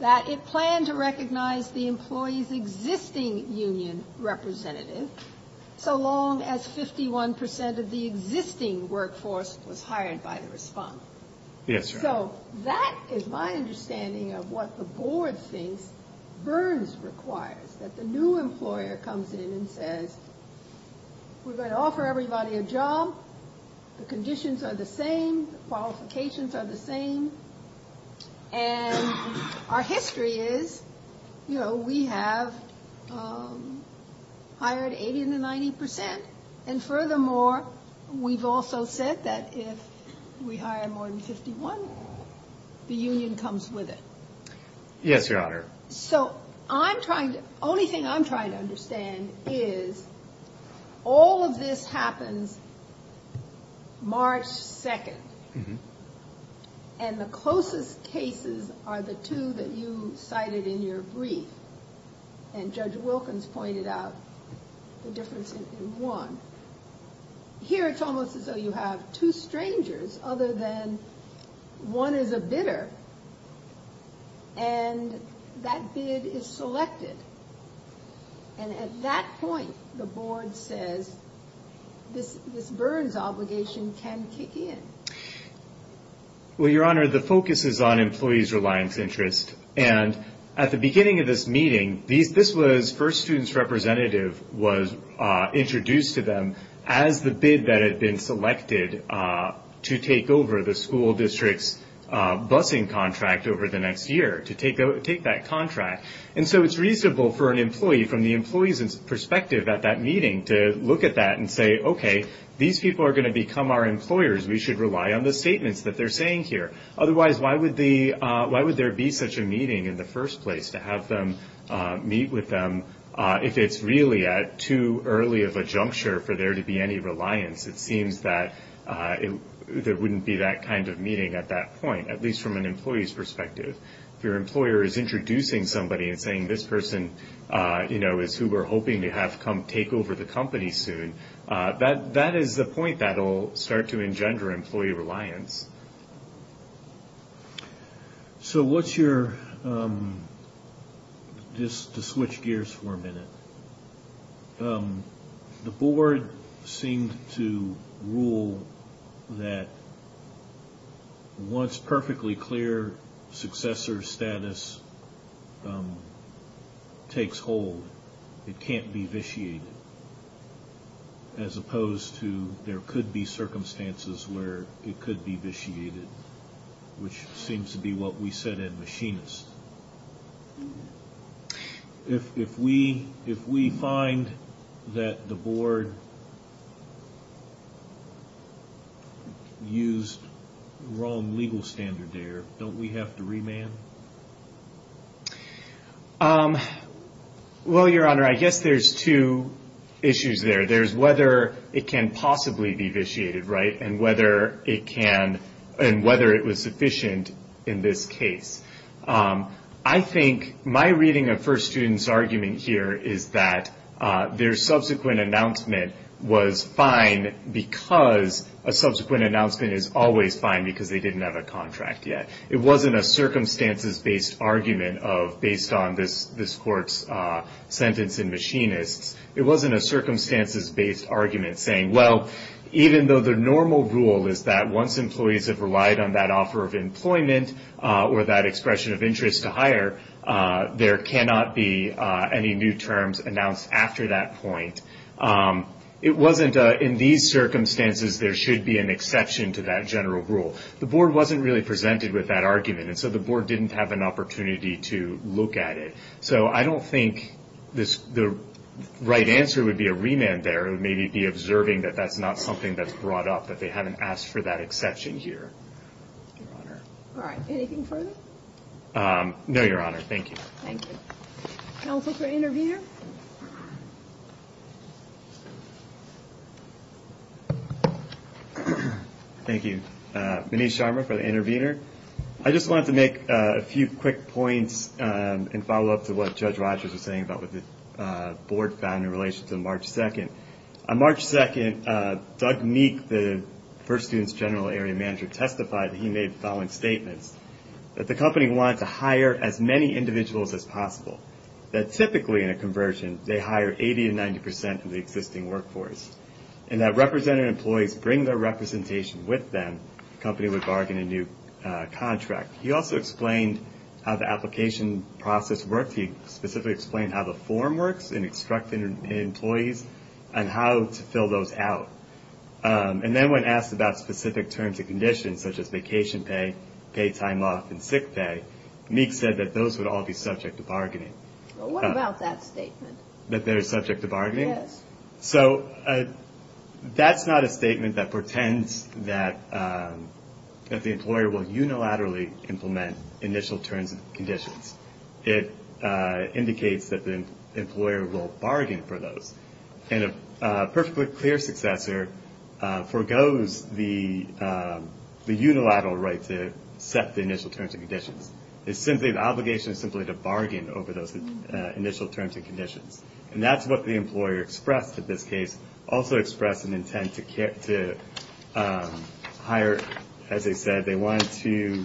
that it planned to recognize the employees' existing union representative so long as 51 percent of the existing workforce was hired by the respondent. Yes, Your Honor. So that is my understanding of what the board thinks Burns requires, that the new employer comes in and says, we're going to offer everybody a job. The conditions are the same. Qualifications are the same. And our history is, you know, we have hired 80 to 90 percent. And furthermore, we've also said that if we hire more than 51, the union comes with it. Yes, Your Honor. So I'm trying to, only thing I'm trying to understand is all of this happens March 2nd. And the closest cases are the two that you cited in your brief. And Judge Wilkins pointed out the difference in one. Here it's almost as though you have two strangers other than one is a bidder and that bid is selected. And at that point, the board says this Burns obligation can kick in. Well, Your Honor, the focus is on employees' reliance interest. And at the beginning of this meeting, this was first student's representative was introduced to them as the bid that had been selected to take over the school district's busing contract over the next year, to take that contract. And so it's reasonable for an employee from the employee's perspective at that meeting to look at that and say, okay, these people are going to become our employers. We should rely on the statements that they're saying here. Otherwise, why would there be such a meeting in the first place to have them meet with them if it's really at too early of a juncture for there to be any reliance? It seems that there wouldn't be that kind of meeting at that point, at least from an employee's perspective. If your employer is introducing somebody and saying this person, you know, to have come take over the company soon, that is the point that will start to engender employee reliance. So what's your – just to switch gears for a minute. The board seemed to rule that once perfectly clear successor status takes hold, it can't be vitiated, as opposed to there could be circumstances where it could be vitiated, which seems to be what we said at Machinist. If we find that the board used the wrong legal standard there, don't we have to remand? Well, Your Honor, I guess there's two issues there. There's whether it can possibly be vitiated, right, and whether it was sufficient in this case. I think my reading of First Student's argument here is that their subsequent announcement was fine because a subsequent announcement is always fine because they didn't have a contract yet. It wasn't a circumstances-based argument based on this court's sentence in Machinist. It wasn't a circumstances-based argument saying, well, even though the normal rule is that once employees have relied on that offer of employment or that expression of interest to hire, there cannot be any new terms announced after that point. It wasn't in these circumstances there should be an exception to that general rule. The board wasn't really presented with that argument, and so the board didn't have an opportunity to look at it. So I don't think the right answer would be a remand there. It would maybe be observing that that's not something that's brought up, that they haven't asked for that exception here. Your Honor. All right. Anything further? No, Your Honor. Thank you. Thank you. Counsel for the intervener? Thank you. Manish Sharma for the intervener. I just wanted to make a few quick points and follow up to what Judge Rogers was saying about what the board found in relation to March 2nd. On March 2nd, Doug Meek, the first student's general area manager, testified that he made the following statements, that the company wanted to hire as many individuals as possible, that typically in a conversion they hire 80 to 90 percent of the existing workforce, and that representative employees bring their representation with them. The company would bargain a new contract. He also explained how the application process worked. He specifically explained how the form works in extracting employees and how to fill those out. And then when asked about specific terms and conditions, such as vacation pay, pay time off, and sick pay, Meek said that those would all be subject to bargaining. Well, what about that statement? That they're subject to bargaining? Yes. So that's not a statement that portends that the employer will unilaterally implement initial terms and conditions. It indicates that the employer will bargain for those. And a perfectly clear successor forgoes the unilateral right to set the initial terms and conditions. The obligation is simply to bargain over those initial terms and conditions. And that's what the employer expressed in this case. Also expressed an intent to hire, as I said, they wanted to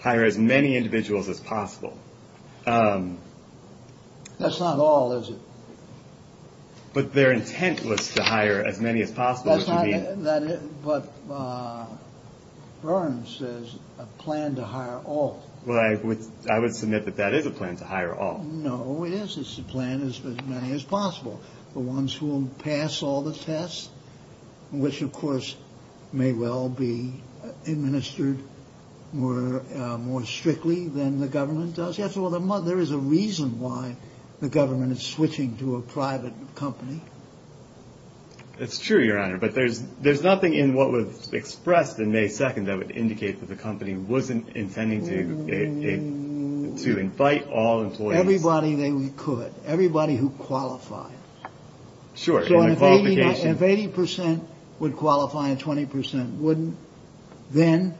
hire as many individuals as possible. That's not all, is it? But their intent was to hire as many as possible. But Burns says a plan to hire all. Well, I would submit that that is a plan to hire all. No, it is. It's a plan as many as possible. The ones who will pass all the tests, which, of course, may well be administered more strictly than the government does. Yes, well, there is a reason why the government is switching to a private company. It's true, Your Honor. But there's nothing in what was expressed in May 2nd that would indicate that the company wasn't intending to invite all employees. Everybody they could. Everybody who qualified. Sure. If 80 percent would qualify and 20 percent wouldn't, then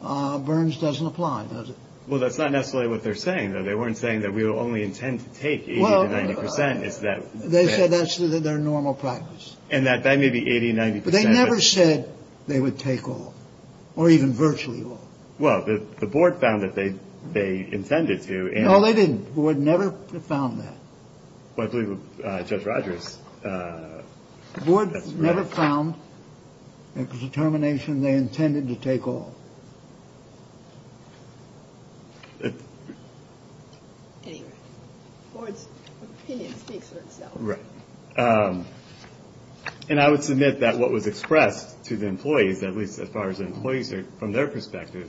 Burns doesn't apply, does it? Well, that's not necessarily what they're saying, though. They weren't saying that we will only intend to take 80 to 90 percent. They said that's their normal practice. And that that may be 80, 90 percent. But they never said they would take all or even virtually all. Well, the board found that they intended to. No, they didn't. They never found that. I believe Judge Rogers. The board never found a determination they intended to take all. Anyway, the board's opinion speaks for itself. Right. And I would submit that what was expressed to the employees, at least as far as employees are from their perspective,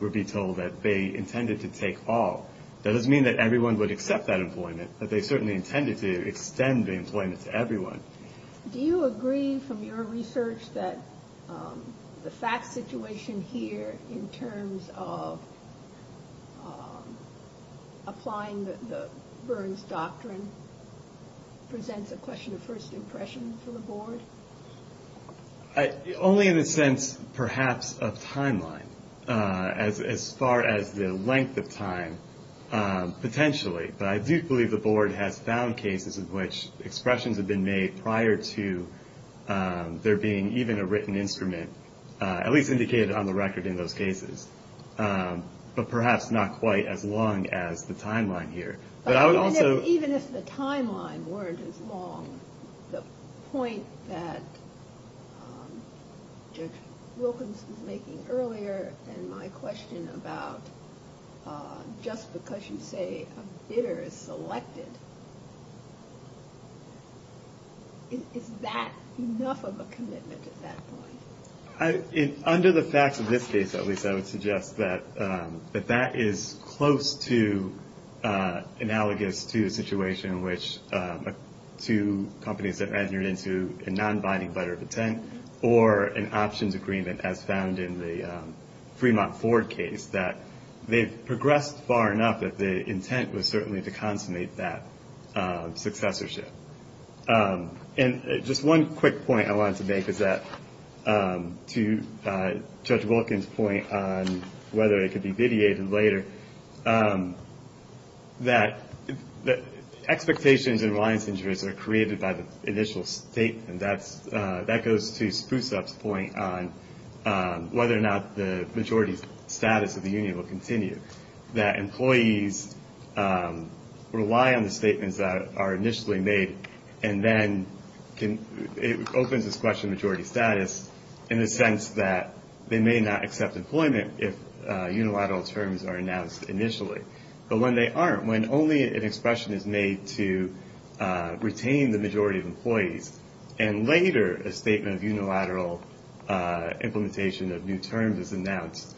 would be told that they intended to take all. That doesn't mean that everyone would accept that employment, but they certainly intended to extend the employment to everyone. Do you agree from your research that the fact situation here in terms of applying the Burns doctrine presents a question of first impression for the board? Only in the sense, perhaps, of timeline, as far as the length of time, potentially. But I do believe the board has found cases in which expressions have been made prior to there being even a written instrument, at least indicated on the record in those cases, but perhaps not quite as long as the timeline here. Even if the timeline weren't as long, the point that Judge Wilkins was making earlier, and my question about just because you say a bidder is selected, is that enough of a commitment at that point? Under the facts of this case, at least, I would suggest that that is close to analogous to a situation in which two companies that entered into a non-binding letter of intent or an options agreement, as found in the Fremont Ford case, that they've progressed far enough that the intent was certainly to consummate that successorship. And just one quick point I wanted to make is that, to Judge Wilkins' point on whether it could be vitiated later, that expectations and reliance injuries are created by the initial statement. That goes to Spusup's point on whether or not the majority status of the union will continue, that employees rely on the statements that are initially made. And then it opens this question of majority status in the sense that they may not accept employment if unilateral terms are announced initially. But when they aren't, when only an expression is made to retain the majority of employees, and later a statement of unilateral implementation of new terms is announced,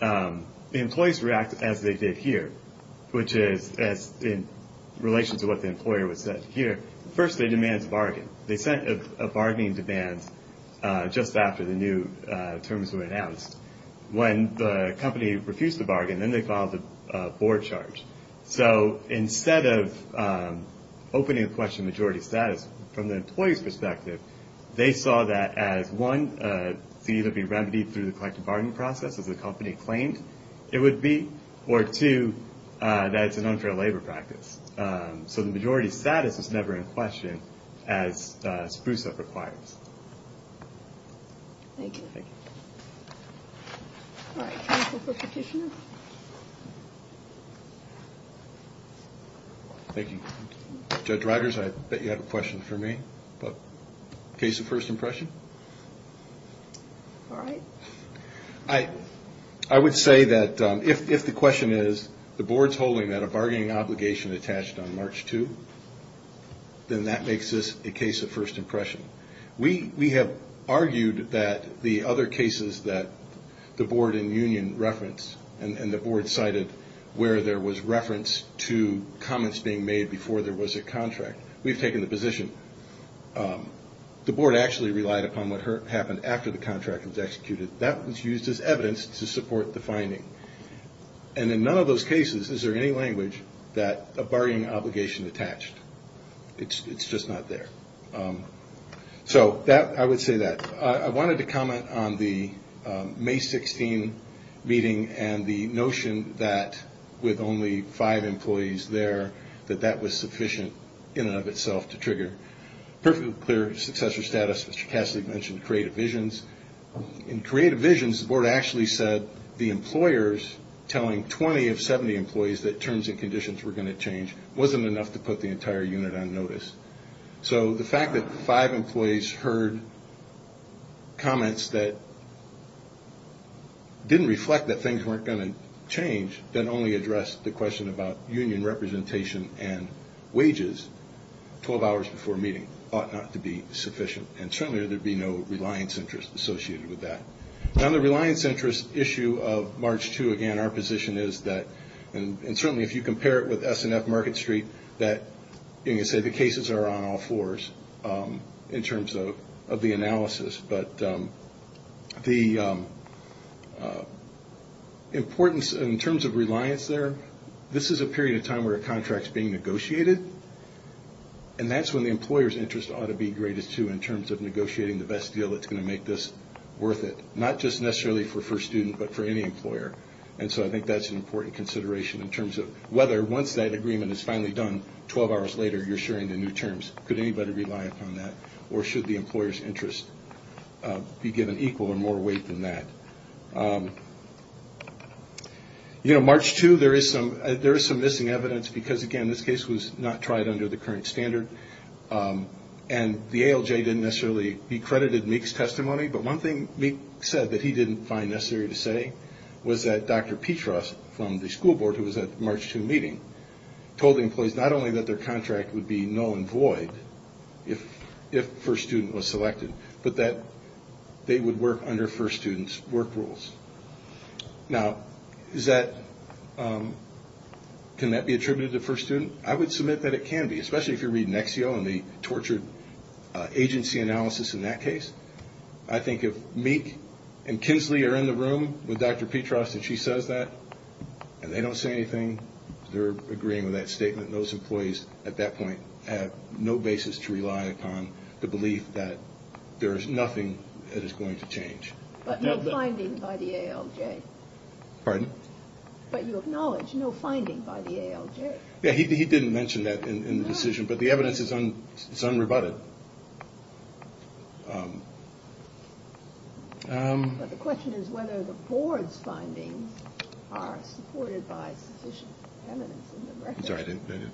the employees react as they did here, which is in relation to what the employer would say here. First, they demand a bargain. They sent a bargaining demand just after the new terms were announced. When the company refused the bargain, then they filed a board charge. So instead of opening the question of majority status from the employee's perspective, they saw that as, one, a fee that would be remedied through the collective bargaining process, as the company claimed it would be, or, two, that it's an unfair labor practice. So the majority status is never in question, as Spusup requires. Thank you. Thank you. All right. Counsel for Petitioner. Thank you. Judge Rikers, I bet you have a question for me. Case of first impression? All right. I would say that if the question is, the board's holding that a bargaining obligation attached on March 2, then that makes this a case of first impression. We have argued that the other cases that the board and union referenced, and the board cited where there was reference to comments being made before there was a contract, we've taken the position the board actually relied upon what happened after the contract was executed. That was used as evidence to support the finding. And in none of those cases is there any language that a bargaining obligation attached. It's just not there. So I would say that. I wanted to comment on the May 16 meeting and the notion that with only five employees there, that that was sufficient in and of itself to trigger. Perfectly clear successor status, Mr. Cassidy mentioned creative visions. In creative visions, the board actually said the employers telling 20 of 70 employees that terms and conditions were going to change wasn't enough to put the entire unit on notice. So the fact that five employees heard comments that didn't reflect that things weren't going to change that only addressed the question about union representation and wages 12 hours before a meeting ought not to be sufficient. And certainly there would be no reliance interest associated with that. Now the reliance interest issue of March 2, again, our position is that, and certainly if you compare it with S&F Market Street, that you can say the cases are on all fours in terms of the analysis. But the importance in terms of reliance there, this is a period of time where a contract is being negotiated. And that's when the employer's interest ought to be greatest, too, in terms of negotiating the best deal that's going to make this worth it, not just necessarily for first student, but for any employer. And so I think that's an important consideration in terms of whether once that agreement is finally done, 12 hours later you're assuring the new terms. Could anybody rely upon that? Or should the employer's interest be given equal or more weight than that? You know, March 2, there is some missing evidence because, again, this case was not tried under the current standard. And the ALJ didn't necessarily be credited Meek's testimony, but one thing Meek said that he didn't find necessary to say was that Dr. Petras from the school board, who was at the March 2 meeting, told the employees not only that their contract would be null and void if first student was selected, but that they would work under first student's work rules. Now, can that be attributed to first student? I would submit that it can be, especially if you're reading Nexio and the tortured agency analysis in that case. I think if Meek and Kinsley are in the room with Dr. Petras and she says that and they don't say anything, they're agreeing with that statement. Those employees at that point have no basis to rely upon the belief that there is nothing that is going to change. But no finding by the ALJ. Pardon? But you acknowledge no finding by the ALJ. Yeah, he didn't mention that in the decision, but the evidence is unrebutted. But the question is whether the board's findings are supported by sufficient evidence in the record. I'm sorry, I didn't.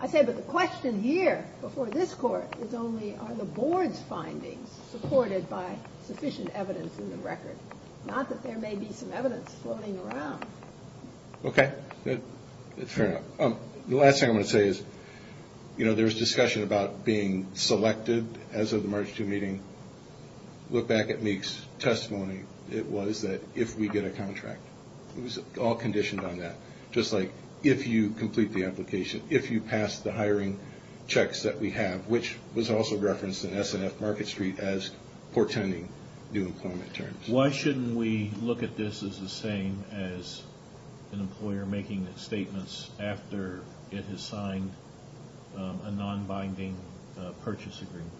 I said, but the question here before this court is only are the board's findings supported by sufficient evidence in the record, not that there may be some evidence floating around. Okay, fair enough. The last thing I want to say is there was discussion about being selected as of the March 2 meeting. Look back at Meek's testimony. It was that if we get a contract. It was all conditioned on that, just like if you complete the application, if you pass the hiring checks that we have, which was also referenced in SNF Market Street as portending new employment terms. Why shouldn't we look at this as the same as an employer making statements after it has signed a nonbinding purchase agreement?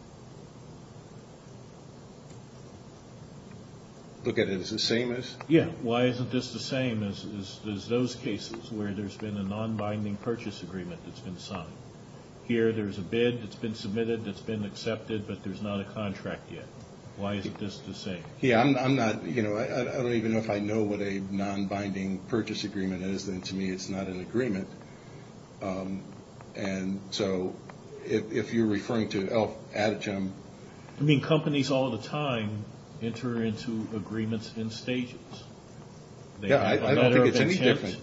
Look at it as the same as? Yeah. Why isn't this the same as those cases where there's been a nonbinding purchase agreement that's been signed? Here there's a bid that's been submitted that's been accepted, but there's not a contract yet. Why isn't this the same? Yeah, I don't even know if I know what a nonbinding purchase agreement is. To me, it's not an agreement. And so if you're referring to Adichem. I mean, companies all the time enter into agreements in stages. Yeah, I don't think it's any different.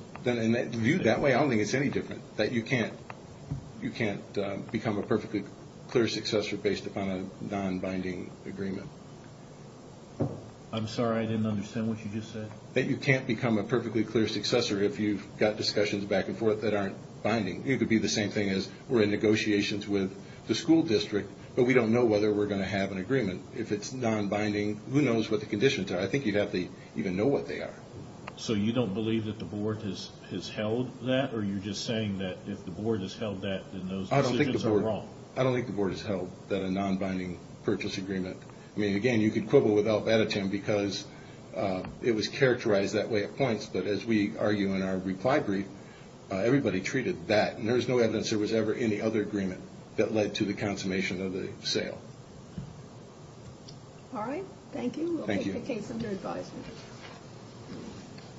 Viewed that way, I don't think it's any different, you can't become a perfectly clear successor based upon a nonbinding agreement. I'm sorry, I didn't understand what you just said. That you can't become a perfectly clear successor if you've got discussions back and forth that aren't binding. It could be the same thing as we're in negotiations with the school district, but we don't know whether we're going to have an agreement. If it's nonbinding, who knows what the conditions are? I think you'd have to even know what they are. So you don't believe that the board has held that, or you're just saying that if the board has held that, then those decisions are wrong? I don't think the board has held that a nonbinding purchase agreement. I mean, again, you could quibble with Al-Badichem because it was characterized that way at points, but as we argue in our reply brief, everybody treated that, and there was no evidence there was ever any other agreement that led to the consummation of the sale. All right, thank you. Thank you. Any other case under advisement?